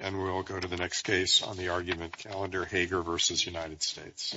and we'll go to the next case on the argument calendar Hager v. United States.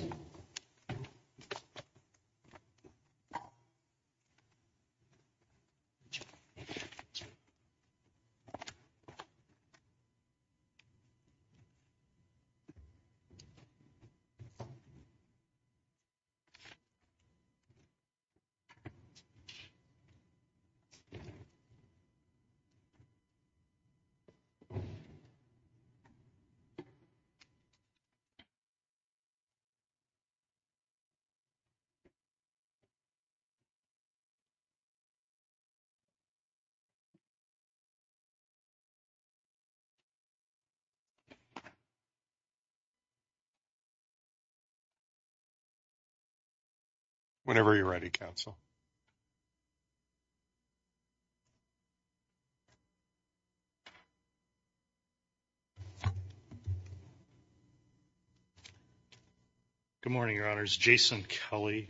Whenever you're ready, counsel. Good morning, your honors, Jason Kelly,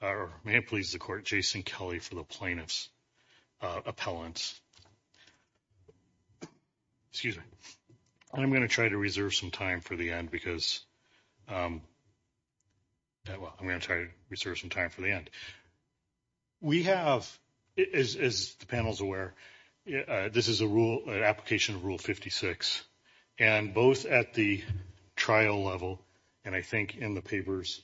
or may it please the court, Jason Kelly for the plaintiff's appellants. Excuse me. I'm going to try to reserve some time for the end because, well, I'm going to try to reserve some time for the end. We have, as the panel is aware, this is a rule, an application of Rule 56, and both at the trial level and I think in the papers,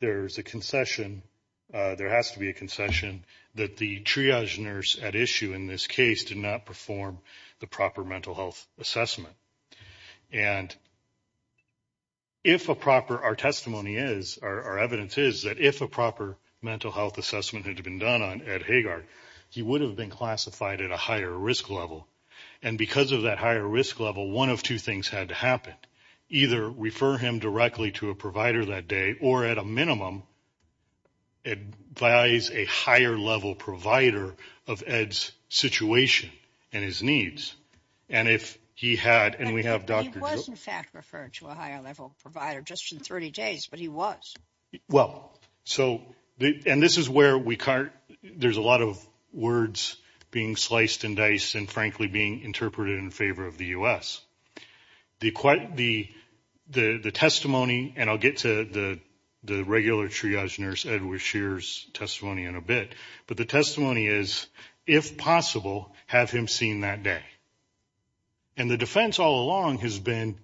there's a concession, there has to be a concession that the triage nurse at issue in this case did not perform the proper mental health assessment. And if a proper, our testimony is, our evidence is that if a proper mental health assessment had been done on Ed Hager, he would have been classified at a higher risk level. And because of that higher risk level, one of two things had to happen. Either refer him directly to a provider that day or at a minimum advise a higher level provider of Ed's situation and his needs. And if he had, and we have Dr. He was in fact referred to a higher level provider just in 30 days, but he was. Well, so, and this is where we can't, there's a lot of words being sliced and diced and frankly being interpreted in favor of the US. The testimony, and I'll get to the regular triage nurse, Edward Shear's testimony in a bit, but the testimony is, if possible, have him seen that day. And the defense all along has been,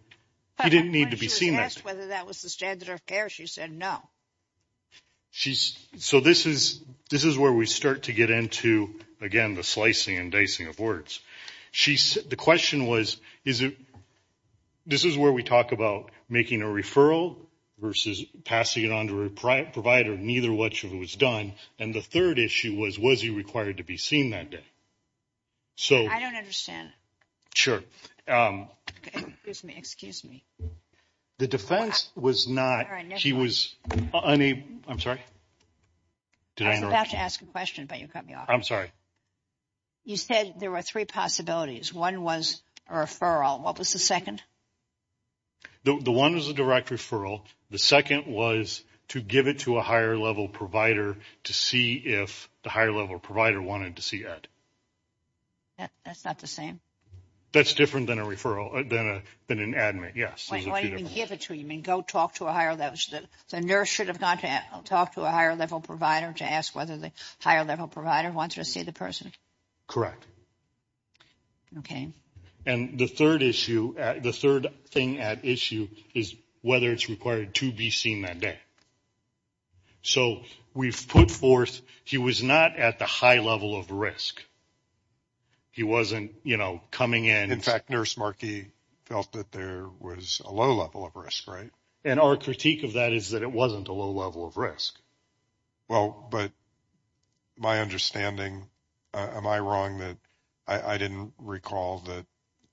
he didn't need to be seen that day. When she was asked whether that was the standard of care, she said no. So this is where we start to get into, again, the slicing and dicing of words. She, the question was, is it, this is where we talk about making a referral versus passing it on to a provider. Neither one was done. And the third issue was, was he required to be seen that day? So I don't understand. Excuse me. The defense was not, he was unable. I'm sorry. I was about to ask a question, but you cut me off. I'm sorry. You said there were three possibilities. One was a referral. What was the second? The one was a direct referral. The second was to give it to a higher-level provider to see if the higher-level provider wanted to see Ed. That's not the same. That's different than a referral, than an admin, yes. What do you mean give it to him? You mean go talk to a higher-level? The nurse should have gone to talk to a higher-level provider to ask whether the higher-level provider wanted to see the person? Correct. Okay. And the third issue, the third thing at issue is whether it's required to be seen that day. So we've put forth, he was not at the high level of risk. He wasn't, you know, coming in. In fact, Nurse Markey felt that there was a low level of risk, right? And our critique of that is that it wasn't a low level of risk. Well, but my understanding, am I wrong that I didn't recall that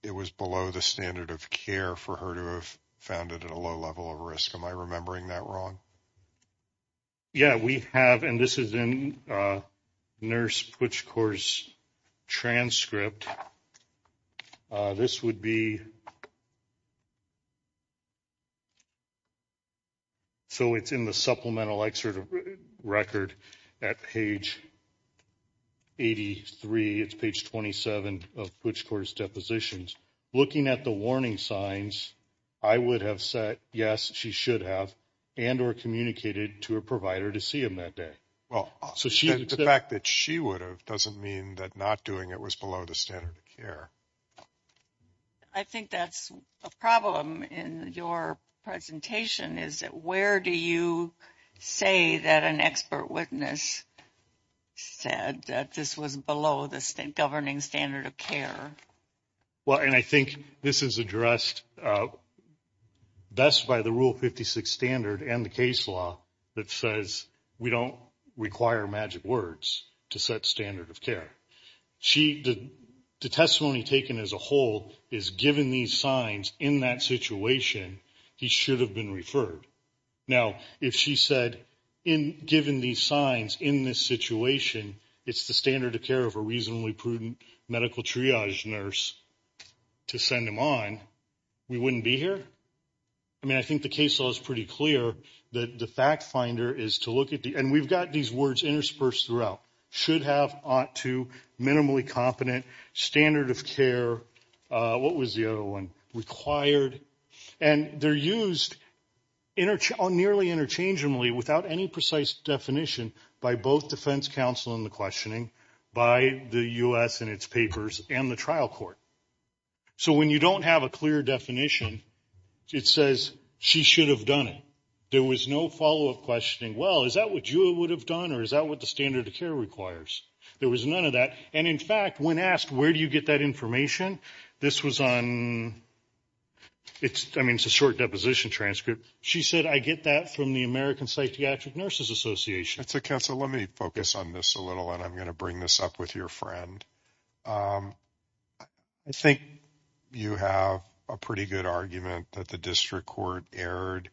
it was below the standard of care for her to have found it at a low level of risk? Am I remembering that wrong? Yeah, we have, and this is in Nurse Puchkor's transcript. This would be, so it's in the supplemental record at page 83, it's page 27 of Puchkor's depositions. Looking at the warning signs, I would have said, yes, she should have and or communicated to a provider to see him that day. Well, the fact that she would have doesn't mean that not doing it was below the standard of care. I think that's a problem in your presentation is that where do you say that an expert witness said that this was below the governing standard of care? Well, and I think this is addressed best by the Rule 56 standard and the case law that says we don't require magic words to set standard of care. The testimony taken as a whole is given these signs in that situation, he should have been referred. Now, if she said, given these signs in this situation, it's the standard of care of a reasonably prudent medical triage nurse to send him on, we wouldn't be here? I mean, I think the case law is pretty clear that the fact finder is to look at the, and we've got these words interspersed throughout. Should have, ought to, minimally competent, standard of care, what was the other one? And they're used nearly interchangeably without any precise definition by both defense counsel in the questioning, by the U.S. and its papers, and the trial court. So when you don't have a clear definition, it says she should have done it. There was no follow-up questioning. Well, is that what you would have done or is that what the standard of care requires? There was none of that. And, in fact, when asked, where do you get that information? This was on, I mean, it's a short deposition transcript. She said, I get that from the American Psychiatric Nurses Association. So, counsel, let me focus on this a little, and I'm going to bring this up with your friend. I think you have a pretty good argument that the district court erred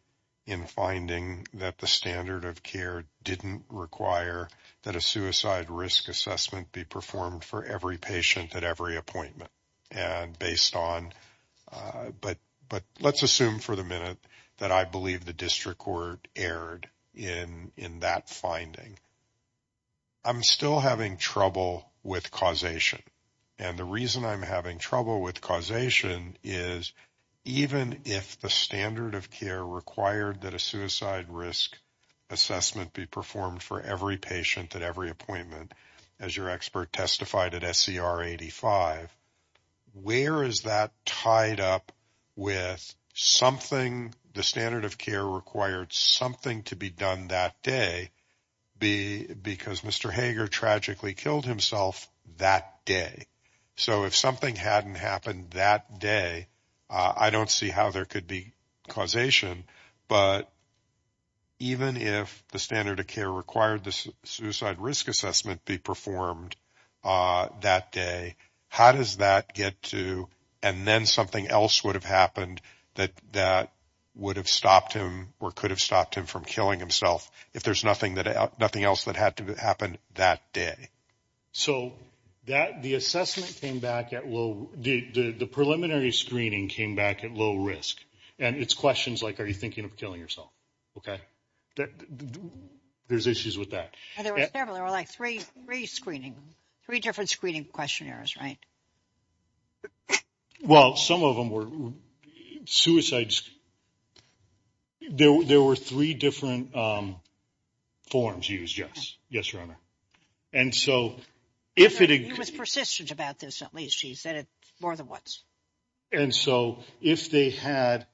in finding that the standard of care didn't require that a suicide risk assessment be performed for every patient at every appointment. And based on, but let's assume for the minute that I believe the district court erred in that finding. I'm still having trouble with causation. And the reason I'm having trouble with causation is even if the standard of care required that a suicide risk assessment be performed for every patient at every appointment, as your expert testified at SCR 85, where is that tied up with something, the standard of care required something to be done that day because Mr. Hager tragically killed himself that day? So if something hadn't happened that day, I don't see how there could be causation. But even if the standard of care required the suicide risk assessment be performed that day, how does that get to, and then something else would have happened that would have stopped him or could have stopped him from killing himself if there's nothing else that had to happen that day? So the assessment came back at low, the preliminary screening came back at low risk. And it's questions like, are you thinking of killing yourself? There's issues with that. There were several, there were like three screening, three different screening questionnaires, right? Well, some of them were suicides. There were three different forms used, yes. And so if it was persistent about this, at least he said it more than once. And so if they had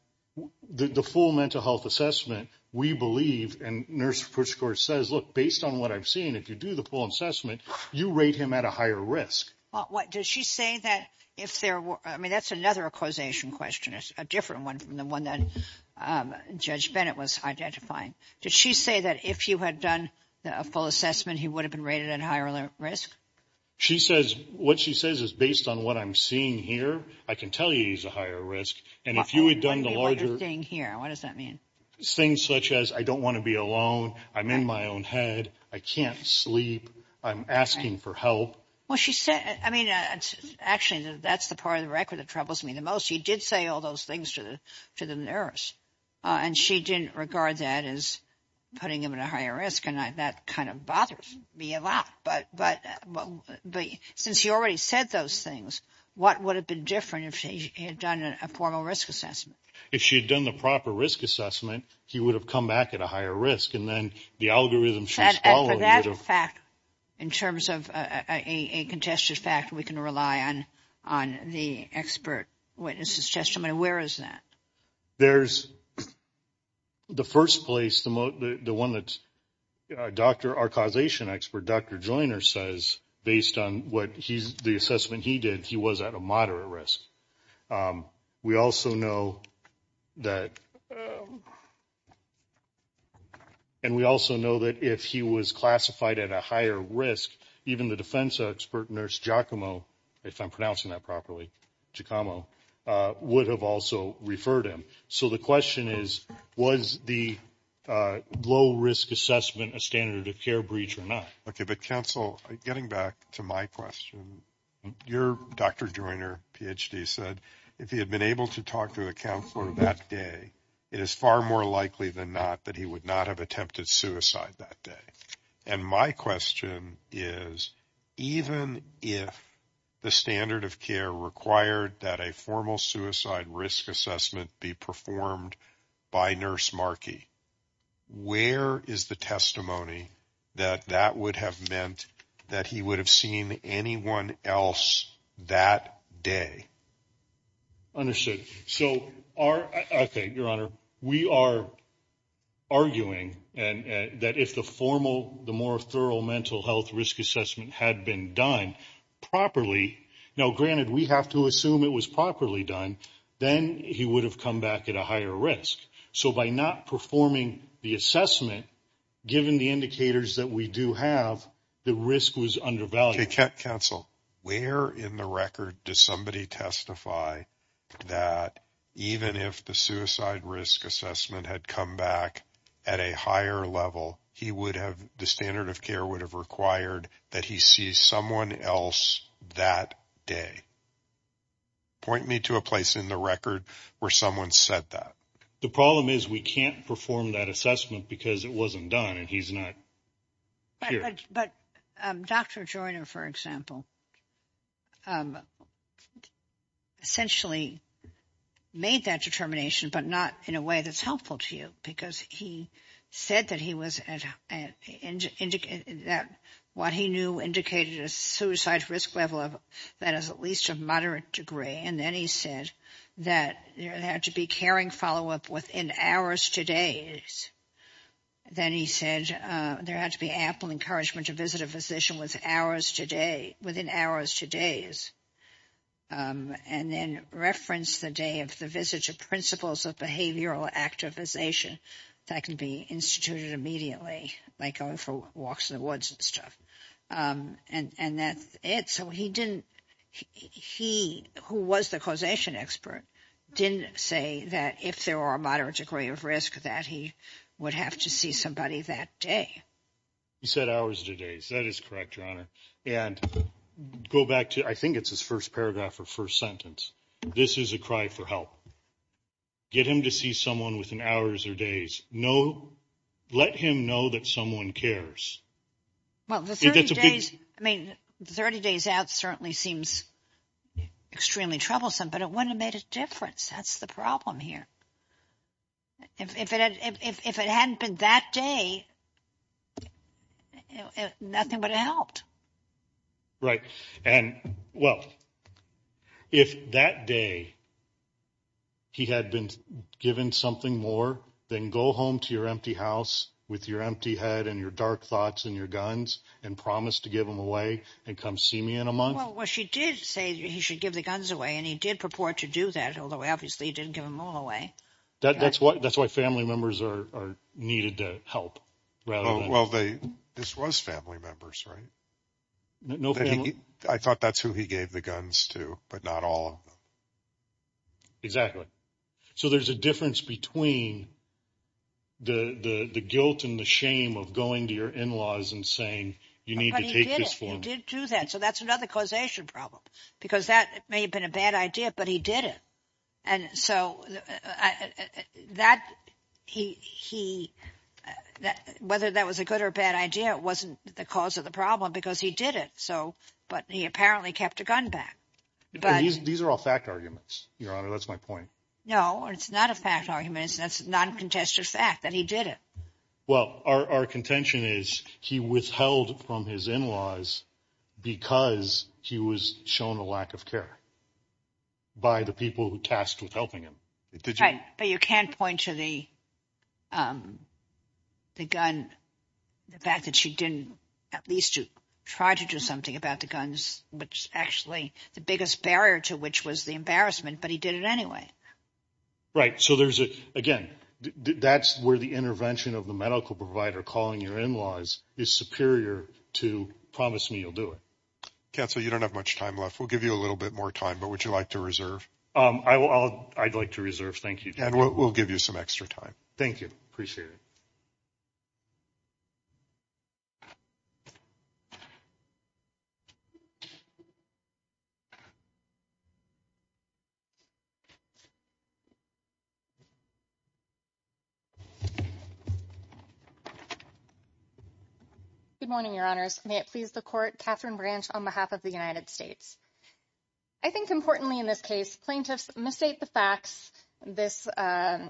the full mental health assessment, we believe, and Nurse Pritchard says, look, based on what I've seen, if you do the full assessment, you rate him at a higher risk. What does she say that if there were I mean, that's another causation question is a different one from the one that Judge Bennett was identifying. Did she say that if you had done a full assessment, he would have been rated at higher risk? She says what she says is based on what I'm seeing here. I can tell you he's a higher risk. And if you had done the larger thing here, what does that mean? Things such as I don't want to be alone. I'm in my own head. I can't sleep. I'm asking for help. Well, she said, I mean, actually, that's the part of the record that troubles me the most. She did say all those things to the to the nurse, and she didn't regard that as putting him at a higher risk. And that kind of bothers me a lot. But but but since he already said those things, what would have been different if he had done a formal risk assessment? If she had done the proper risk assessment, he would have come back at a higher risk. And then the algorithm should follow that fact. In terms of a contested fact, we can rely on on the expert witnesses testimony. Where is that? There's. The first place, the one that Dr. Our causation expert, Dr. Joyner, says based on what he's the assessment he did, he was at a moderate risk. We also know that. And we also know that if he was classified at a higher risk, even the defense expert nurse, Giacomo, if I'm pronouncing that properly, Giacomo would have also referred him. So the question is, was the low risk assessment a standard of care breach or not? OK, but counsel, getting back to my question, you're Dr. Joyner, PhD, said if he had been able to talk to the counselor that day, it is far more likely than not that he would not have attempted suicide that day. And my question is, even if the standard of care required that a formal suicide risk assessment be performed by nurse Markey, where is the testimony that that would have meant that he would have seen anyone else that day? Understood. So are OK. Your Honor, we are arguing that if the formal, the more thorough mental health risk assessment had been done properly. Now, granted, we have to assume it was properly done. Then he would have come back at a higher risk. So by not performing the assessment, given the indicators that we do have, the risk was undervalued. OK, counsel, where in the record does somebody testify that even if the suicide risk assessment had come back at a higher level, he would have, the standard of care would have required that he see someone else that day? Point me to a place in the record where someone said that. The problem is we can't perform that assessment because it wasn't done and he's not here. But Dr. Joyner, for example, essentially made that determination, but not in a way that's helpful to you, because he said that what he knew indicated a suicide risk level that is at least of moderate degree. And then he said that there had to be caring follow up within hours to days. Then he said there had to be ample encouragement to visit a physician within hours to days. And then reference the day of the visit to principles of behavioral activation that can be instituted immediately, like going for walks in the woods and stuff. And that's it. So he didn't, he who was the causation expert, didn't say that if there were a moderate degree of risk, that he would have to see somebody that day. He said hours to days. That is correct, Your Honor. And go back to, I think it's his first paragraph or first sentence. This is a cry for help. Get him to see someone within hours or days. Let him know that someone cares. Well, the 30 days, I mean, 30 days out certainly seems extremely troublesome, but it wouldn't have made a difference. That's the problem here. If it hadn't been that day, nothing would have helped. Right. And, well, if that day he had been given something more, then go home to your empty house with your empty head and your dark thoughts and your guns and promise to give them away and come see me in a month. Well, she did say he should give the guns away, and he did purport to do that, although obviously he didn't give them all away. That's why family members are needed to help. Well, this was family members, right? I thought that's who he gave the guns to, but not all of them. Exactly. So there's a difference between the guilt and the shame of going to your in-laws and saying you need to take this form. But he did it. He did do that. So that's another causation problem because that may have been a bad idea, but he did it. And so whether that was a good or bad idea wasn't the cause of the problem because he did it, but he apparently kept a gun back. These are all fact arguments, Your Honor. That's my point. No, it's not a fact argument. It's a non-contested fact that he did it. Well, our contention is he withheld from his in-laws because he was shown a lack of care by the people who tasked with helping him. But you can't point to the gun, the fact that she didn't at least try to do something about the guns, which actually the biggest barrier to which was the embarrassment, but he did it anyway. Right. So, again, that's where the intervention of the medical provider calling your in-laws is superior to promise me you'll do it. Counsel, you don't have much time left. We'll give you a little bit more time, but would you like to reserve? I'd like to reserve. Thank you. And we'll give you some extra time. Thank you. Appreciate it. Good morning, Your Honors. May it please the court, Kathryn Branch on behalf of the United States. I think importantly in this case, plaintiffs mistake the facts. They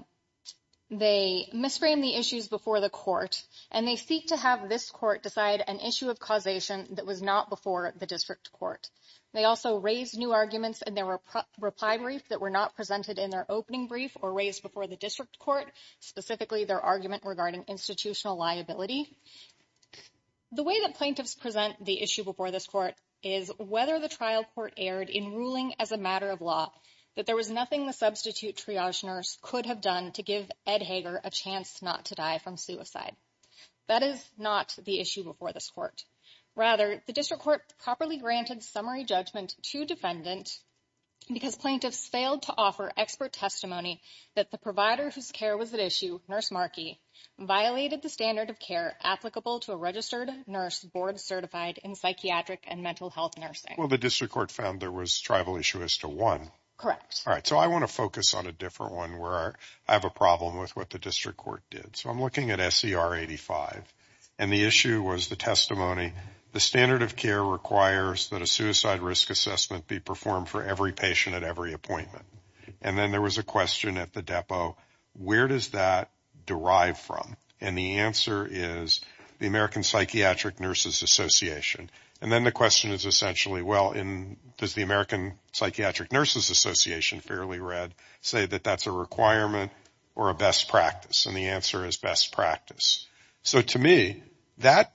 misframe the issues before the court, and they seek to have this court decide an issue of causation that was not before the district court. They also raise new arguments, and there were reply brief that were not presented in their opening brief or raised before the district court, specifically their argument regarding institutional liability. The way that plaintiffs present the issue before this court is whether the trial court aired in ruling as a matter of law that there was nothing the substitute triage nurse could have done to give Ed Hager a chance not to die from suicide. That is not the issue before this court. Rather, the district court properly granted summary judgment to defendant because plaintiffs failed to offer expert testimony that the provider whose care was at issue, Nurse Markey, violated the standard of care applicable to a registered nurse board certified in psychiatric and mental health nursing. Well, the district court found there was tribal issue as to one. All right. So I want to focus on a different one where I have a problem with what the district court did. So I'm looking at SCR 85. And the issue was the testimony, the standard of care requires that a suicide risk assessment be performed for every patient at every appointment. And then there was a question at the depot, where does that derive from? And the answer is the American Psychiatric Nurses Association. And then the question is essentially, well, does the American Psychiatric Nurses Association, fairly read, say that that's a requirement or a best practice? And the answer is best practice. So to me, that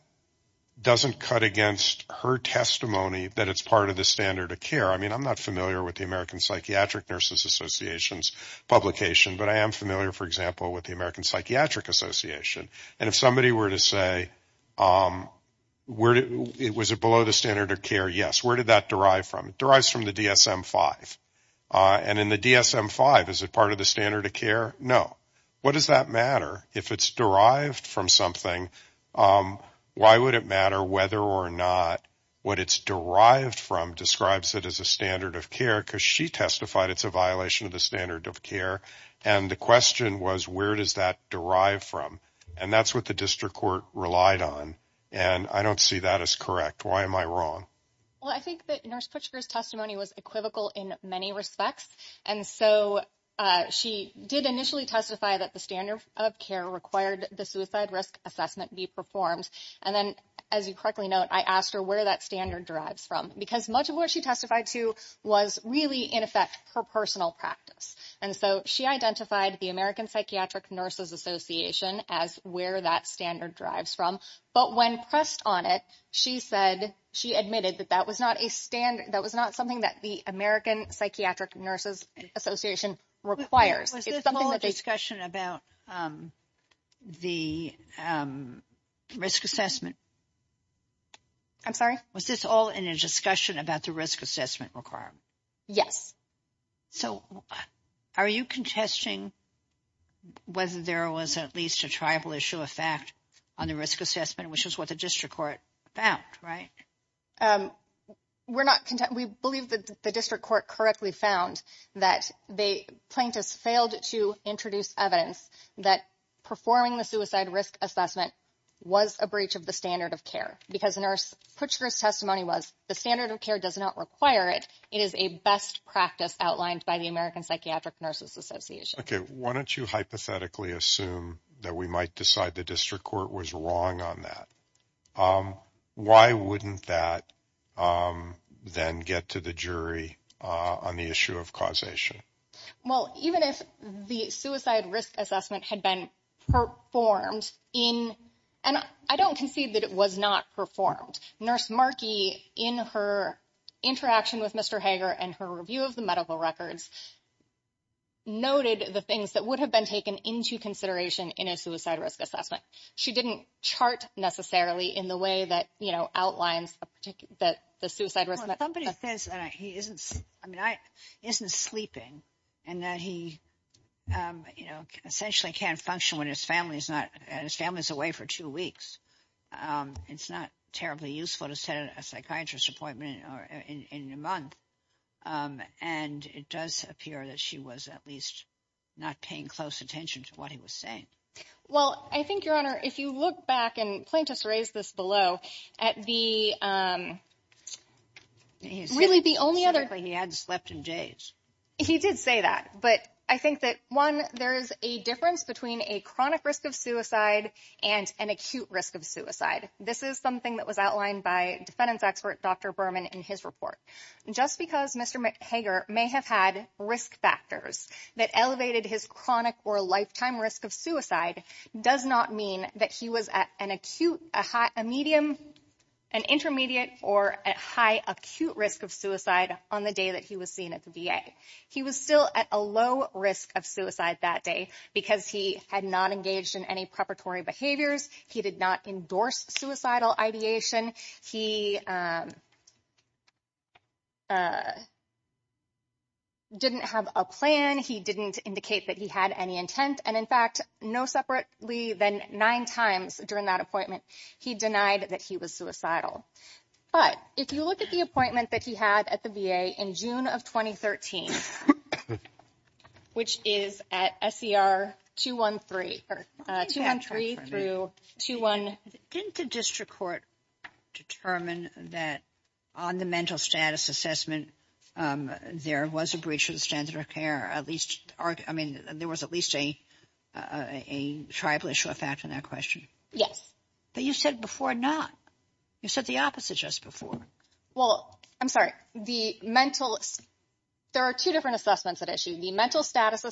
doesn't cut against her testimony that it's part of the standard of care. I mean, I'm not familiar with the American Psychiatric Nurses Association's publication, but I am familiar, for example, with the American Psychiatric Association. And if somebody were to say, was it below the standard of care? Yes. Where did that derive from? It derives from the DSM-5. And in the DSM-5, is it part of the standard of care? No. What does that matter? If it's derived from something, why would it matter whether or not what it's derived from describes it as a standard of care? Because she testified it's a violation of the standard of care. And the question was, where does that derive from? And that's what the district court relied on. And I don't see that as correct. Why am I wrong? Well, I think that Nurse Puchker's testimony was equivocal in many respects. And so she did initially testify that the standard of care required the suicide risk assessment be performed. And then, as you correctly note, I asked her where that standard derives from. Because much of what she testified to was really, in effect, her personal practice. And so she identified the American Psychiatric Nurses Association as where that standard derives from. But when pressed on it, she admitted that that was not something that the American Psychiatric Nurses Association requires. Was this all in a discussion about the risk assessment? I'm sorry? Was this all in a discussion about the risk assessment requirement? Yes. So are you contesting whether there was at least a tribal issue of fact on the risk assessment, which is what the district court found, right? We're not contesting. We believe that the district court correctly found that the plaintiffs failed to introduce evidence that performing the suicide risk assessment was a breach of the standard of care. Because Nurse Puchker's testimony was the standard of care does not require it. It is a best practice outlined by the American Psychiatric Nurses Association. Okay. Why don't you hypothetically assume that we might decide the district court was wrong on that? Why wouldn't that then get to the jury on the issue of causation? Well, even if the suicide risk assessment had been performed in – and I don't concede that it was not performed. Nurse Markey, in her interaction with Mr. Hager and her review of the medical records, noted the things that would have been taken into consideration in a suicide risk assessment. She didn't chart necessarily in the way that outlines the suicide risk assessment. Somebody says that he isn't sleeping and that he essentially can't function when his family is away for two weeks. It's not terribly useful to set a psychiatrist's appointment in a month. And it does appear that she was at least not paying close attention to what he was saying. Well, I think, Your Honor, if you look back, and Plaintiff's raised this below, at the really the only other – He said specifically he hadn't slept in days. He did say that. But I think that, one, there is a difference between a chronic risk of suicide and an acute risk of suicide. This is something that was outlined by defendants expert Dr. Berman in his report. Just because Mr. Hager may have had risk factors that elevated his chronic or lifetime risk of suicide does not mean that he was at an acute, a medium, an intermediate, or a high acute risk of suicide on the day that he was seen at the VA. He was still at a low risk of suicide that day because he had not engaged in any preparatory behaviors. He did not endorse suicidal ideation. He didn't have a plan. He didn't indicate that he had any intent. And, in fact, no separately than nine times during that appointment, he denied that he was suicidal. But if you look at the appointment that he had at the VA in June of 2013, which is at SER 213, 213 through 21 – Didn't the district court determine that on the mental status assessment there was a breach of the standard of care? I mean, there was at least a tribal issue of fact in that question? But you said before not. You said the opposite just before. Well, I'm sorry. The mental – there are two different assessments at issue. The mental status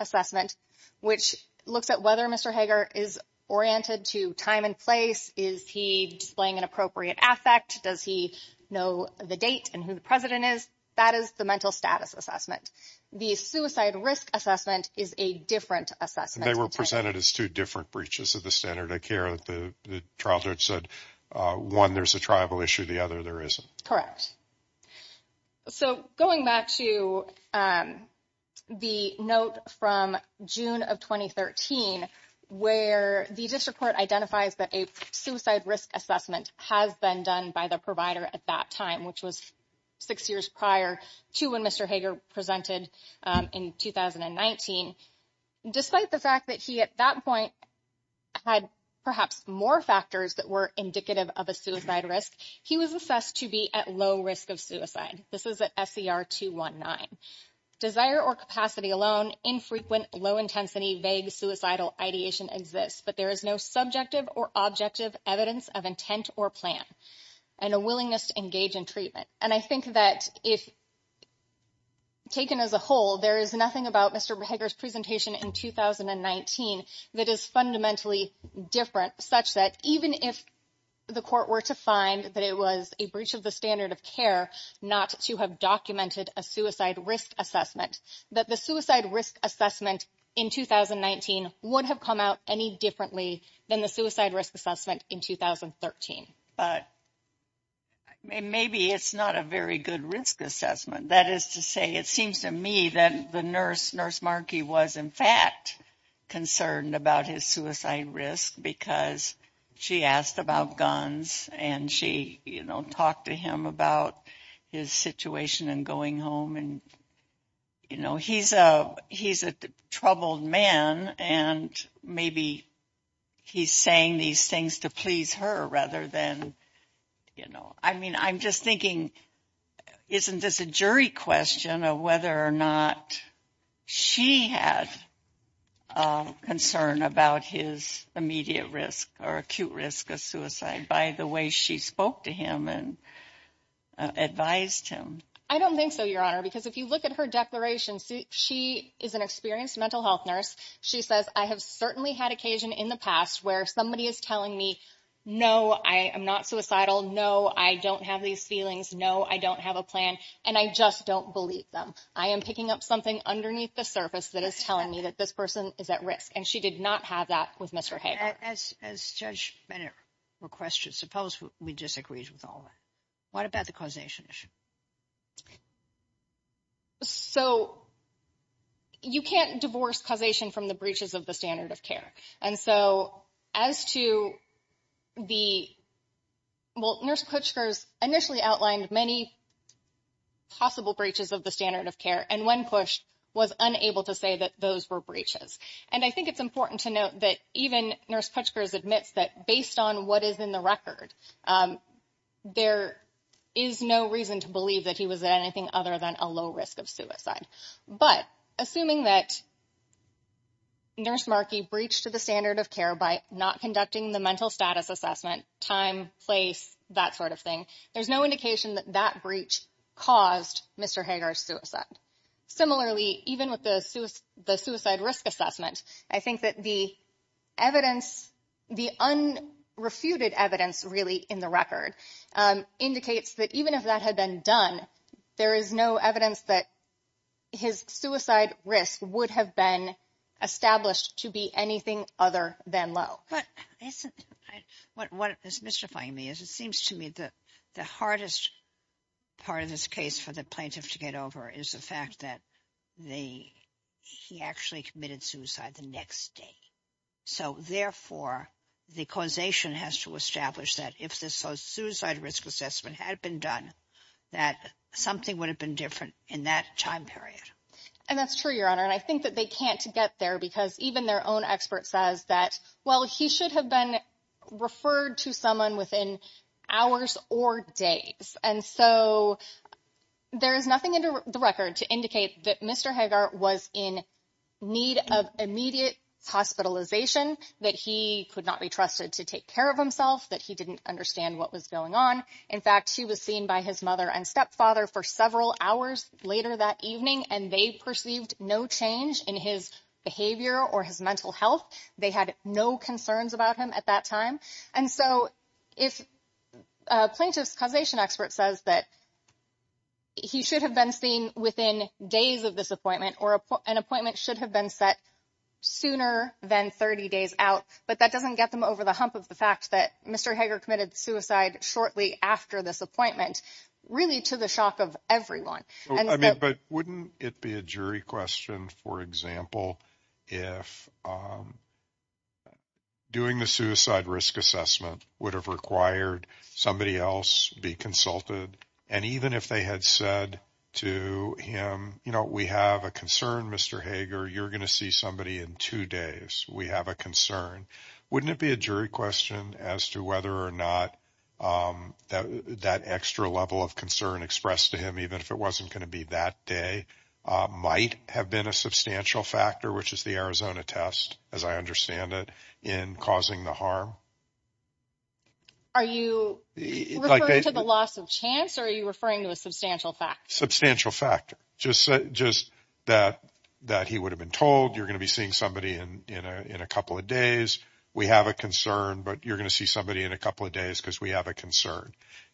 assessment, which looks at whether Mr. Hager is oriented to time and place. Is he displaying an appropriate affect? Does he know the date and who the president is? That is the mental status assessment. The suicide risk assessment is a different assessment. They were presented as two different breaches of the standard of care. The trial judge said, one, there's a tribal issue. The other, there isn't. So going back to the note from June of 2013, where the district court identifies that a suicide risk assessment has been done by the provider at that time, which was six years prior to when Mr. Hager presented in 2019. Despite the fact that he at that point had perhaps more factors that were indicative of a suicide risk, he was assessed to be at low risk of suicide. This is at SER 219. Desire or capacity alone, infrequent, low-intensity, vague suicidal ideation exists, but there is no subjective or objective evidence of intent or plan. And a willingness to engage in treatment. And I think that if taken as a whole, there is nothing about Mr. Hager's presentation in 2019 that is fundamentally different, such that even if the court were to find that it was a breach of the standard of care not to have documented a suicide risk assessment, that the suicide risk assessment in 2019 would have come out any differently than the suicide risk assessment in 2013. But maybe it's not a very good risk assessment. That is to say, it seems to me that the nurse, Nurse Markey, was in fact concerned about his suicide risk because she asked about guns and she, you know, talked to him about his situation and going home and, you know, he's a troubled man and maybe he's saying these things to please her rather than, you know. I mean, I'm just thinking, isn't this a jury question of whether or not she had concern about his immediate risk or acute risk of suicide by the way she spoke to him and advised him? I don't think so, Your Honor, because if you look at her declaration, she is an experienced mental health nurse. She says, I have certainly had occasion in the past where somebody is telling me, no, I am not suicidal, no, I don't have these feelings, no, I don't have a plan, and I just don't believe them. I am picking up something underneath the surface that is telling me that this person is at risk, and she did not have that with Mr. Hager. As Judge Bennett requested, suppose we disagreed with all that. What about the causation issue? So you can't divorce causation from the breaches of the standard of care. And so as to the – well, Nurse Kutschgers initially outlined many possible breaches of the standard of care and when pushed was unable to say that those were breaches. And I think it's important to note that even Nurse Kutschgers admits that based on what is in the record, there is no reason to believe that he was at anything other than a low risk of suicide. But assuming that Nurse Markey breached the standard of care by not conducting the mental status assessment, time, place, that sort of thing, there's no indication that that breach caused Mr. Hager's suicide. Similarly, even with the suicide risk assessment, I think that the evidence – the unrefuted evidence really in the record indicates that even if that had been done, there is no evidence that his suicide risk would have been established to be anything other than low. But isn't – what is mystifying me is it seems to me that the hardest part of this case for the plaintiff to get over is the fact that he actually committed suicide the next day. So, therefore, the causation has to establish that if the suicide risk assessment had been done, that something would have been different in that time period. And that's true, Your Honor. And I think that they can't get there because even their own expert says that, well, he should have been referred to someone within hours or days. And so there is nothing in the record to indicate that Mr. Hager was in need of immediate hospitalization, that he could not be trusted to take care of himself, that he didn't understand what was going on. In fact, he was seen by his mother and stepfather for several hours later that evening, and they perceived no change in his behavior or his mental health. They had no concerns about him at that time. And so if a plaintiff's causation expert says that he should have been seen within days of this appointment or an appointment should have been set sooner than 30 days out, but that doesn't get them over the hump of the fact that Mr. Hager committed suicide shortly after this appointment, really to the shock of everyone. But wouldn't it be a jury question, for example, if doing the suicide risk assessment would have required somebody else be consulted? And even if they had said to him, you know, we have a concern, Mr. Hager, you're going to see somebody in two days. We have a concern. Wouldn't it be a jury question as to whether or not that extra level of concern expressed to him, even if it wasn't going to be that day, might have been a substantial factor, which is the Arizona test, as I understand it, in causing the harm? Are you referring to the loss of chance or are you referring to a substantial factor? Substantial factor, just that he would have been told, you're going to be seeing somebody in a couple of days, we have a concern, but you're going to see somebody in a couple of days because we have a concern.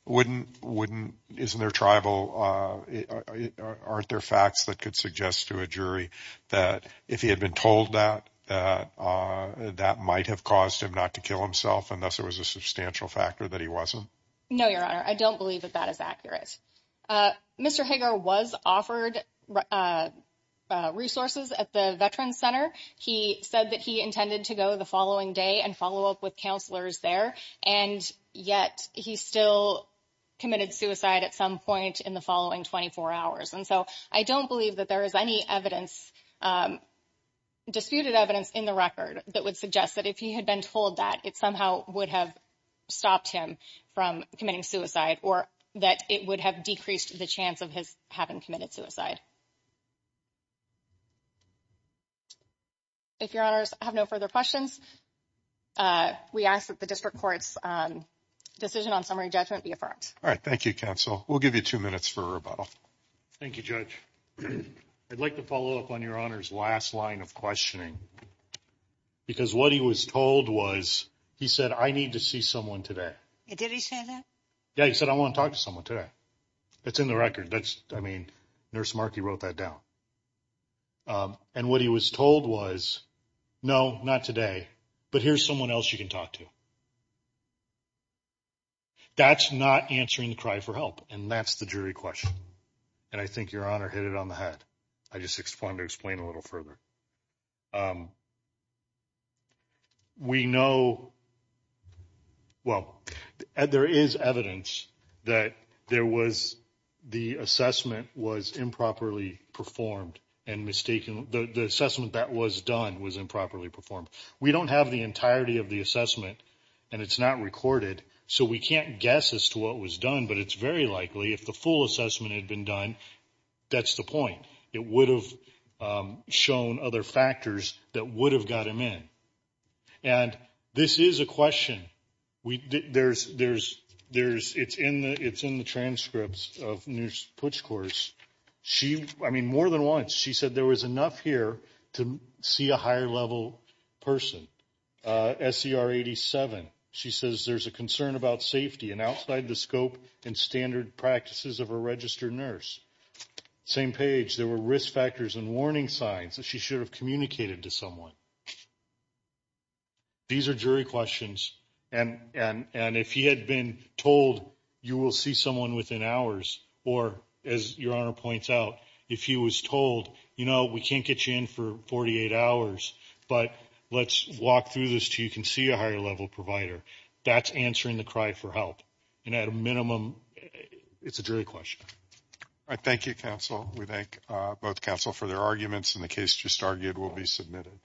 Isn't there tribal, aren't there facts that could suggest to a jury that if he had been told that, that might have caused him not to kill himself, unless there was a substantial factor that he wasn't? No, Your Honor, I don't believe that that is accurate. Mr. Hager was offered resources at the Veterans Center. He said that he intended to go the following day and follow up with counselors there, and yet he still committed suicide at some point in the following 24 hours. And so I don't believe that there is any evidence, disputed evidence in the record that would suggest that if he had been told that, it somehow would have stopped him from committing suicide or that it would have decreased the chance of his having committed suicide. If Your Honors have no further questions, we ask that the district court's decision on summary judgment be affirmed. All right, thank you, counsel. We'll give you two minutes for rebuttal. Thank you, Judge. I'd like to follow up on Your Honor's last line of questioning, because what he was told was he said, I need to see someone today. Did he say that? Yeah, he said, I want to talk to someone today. That's in the record. That's, I mean, Nurse Markey wrote that down. And what he was told was, no, not today. But here's someone else you can talk to. That's not answering the cry for help, and that's the jury question. And I think Your Honor hit it on the head. I just wanted to explain a little further. We know, well, there is evidence that there was the assessment was improperly performed and mistakenly, the assessment that was done was improperly performed. We don't have the entirety of the assessment, and it's not recorded, so we can't guess as to what was done. But it's very likely, if the full assessment had been done, that's the point. It would have shown other factors that would have got him in. And this is a question. It's in the transcripts of Nurse Putsch's course. She, I mean, more than once, she said there was enough here to see a higher-level person. SCR 87, she says, there's a concern about safety and outside the scope and standard practices of a registered nurse. Same page, there were risk factors and warning signs that she should have communicated to someone. These are jury questions, and if he had been told, you will see someone within hours, or as Your Honor points out, if he was told, you know, we can't get you in for 48 hours, but let's walk through this until you can see a higher-level provider, that's answering the cry for help. And at a minimum, it's a jury question. Thank you, counsel. We thank both counsel for their arguments, and the case just argued will be submitted.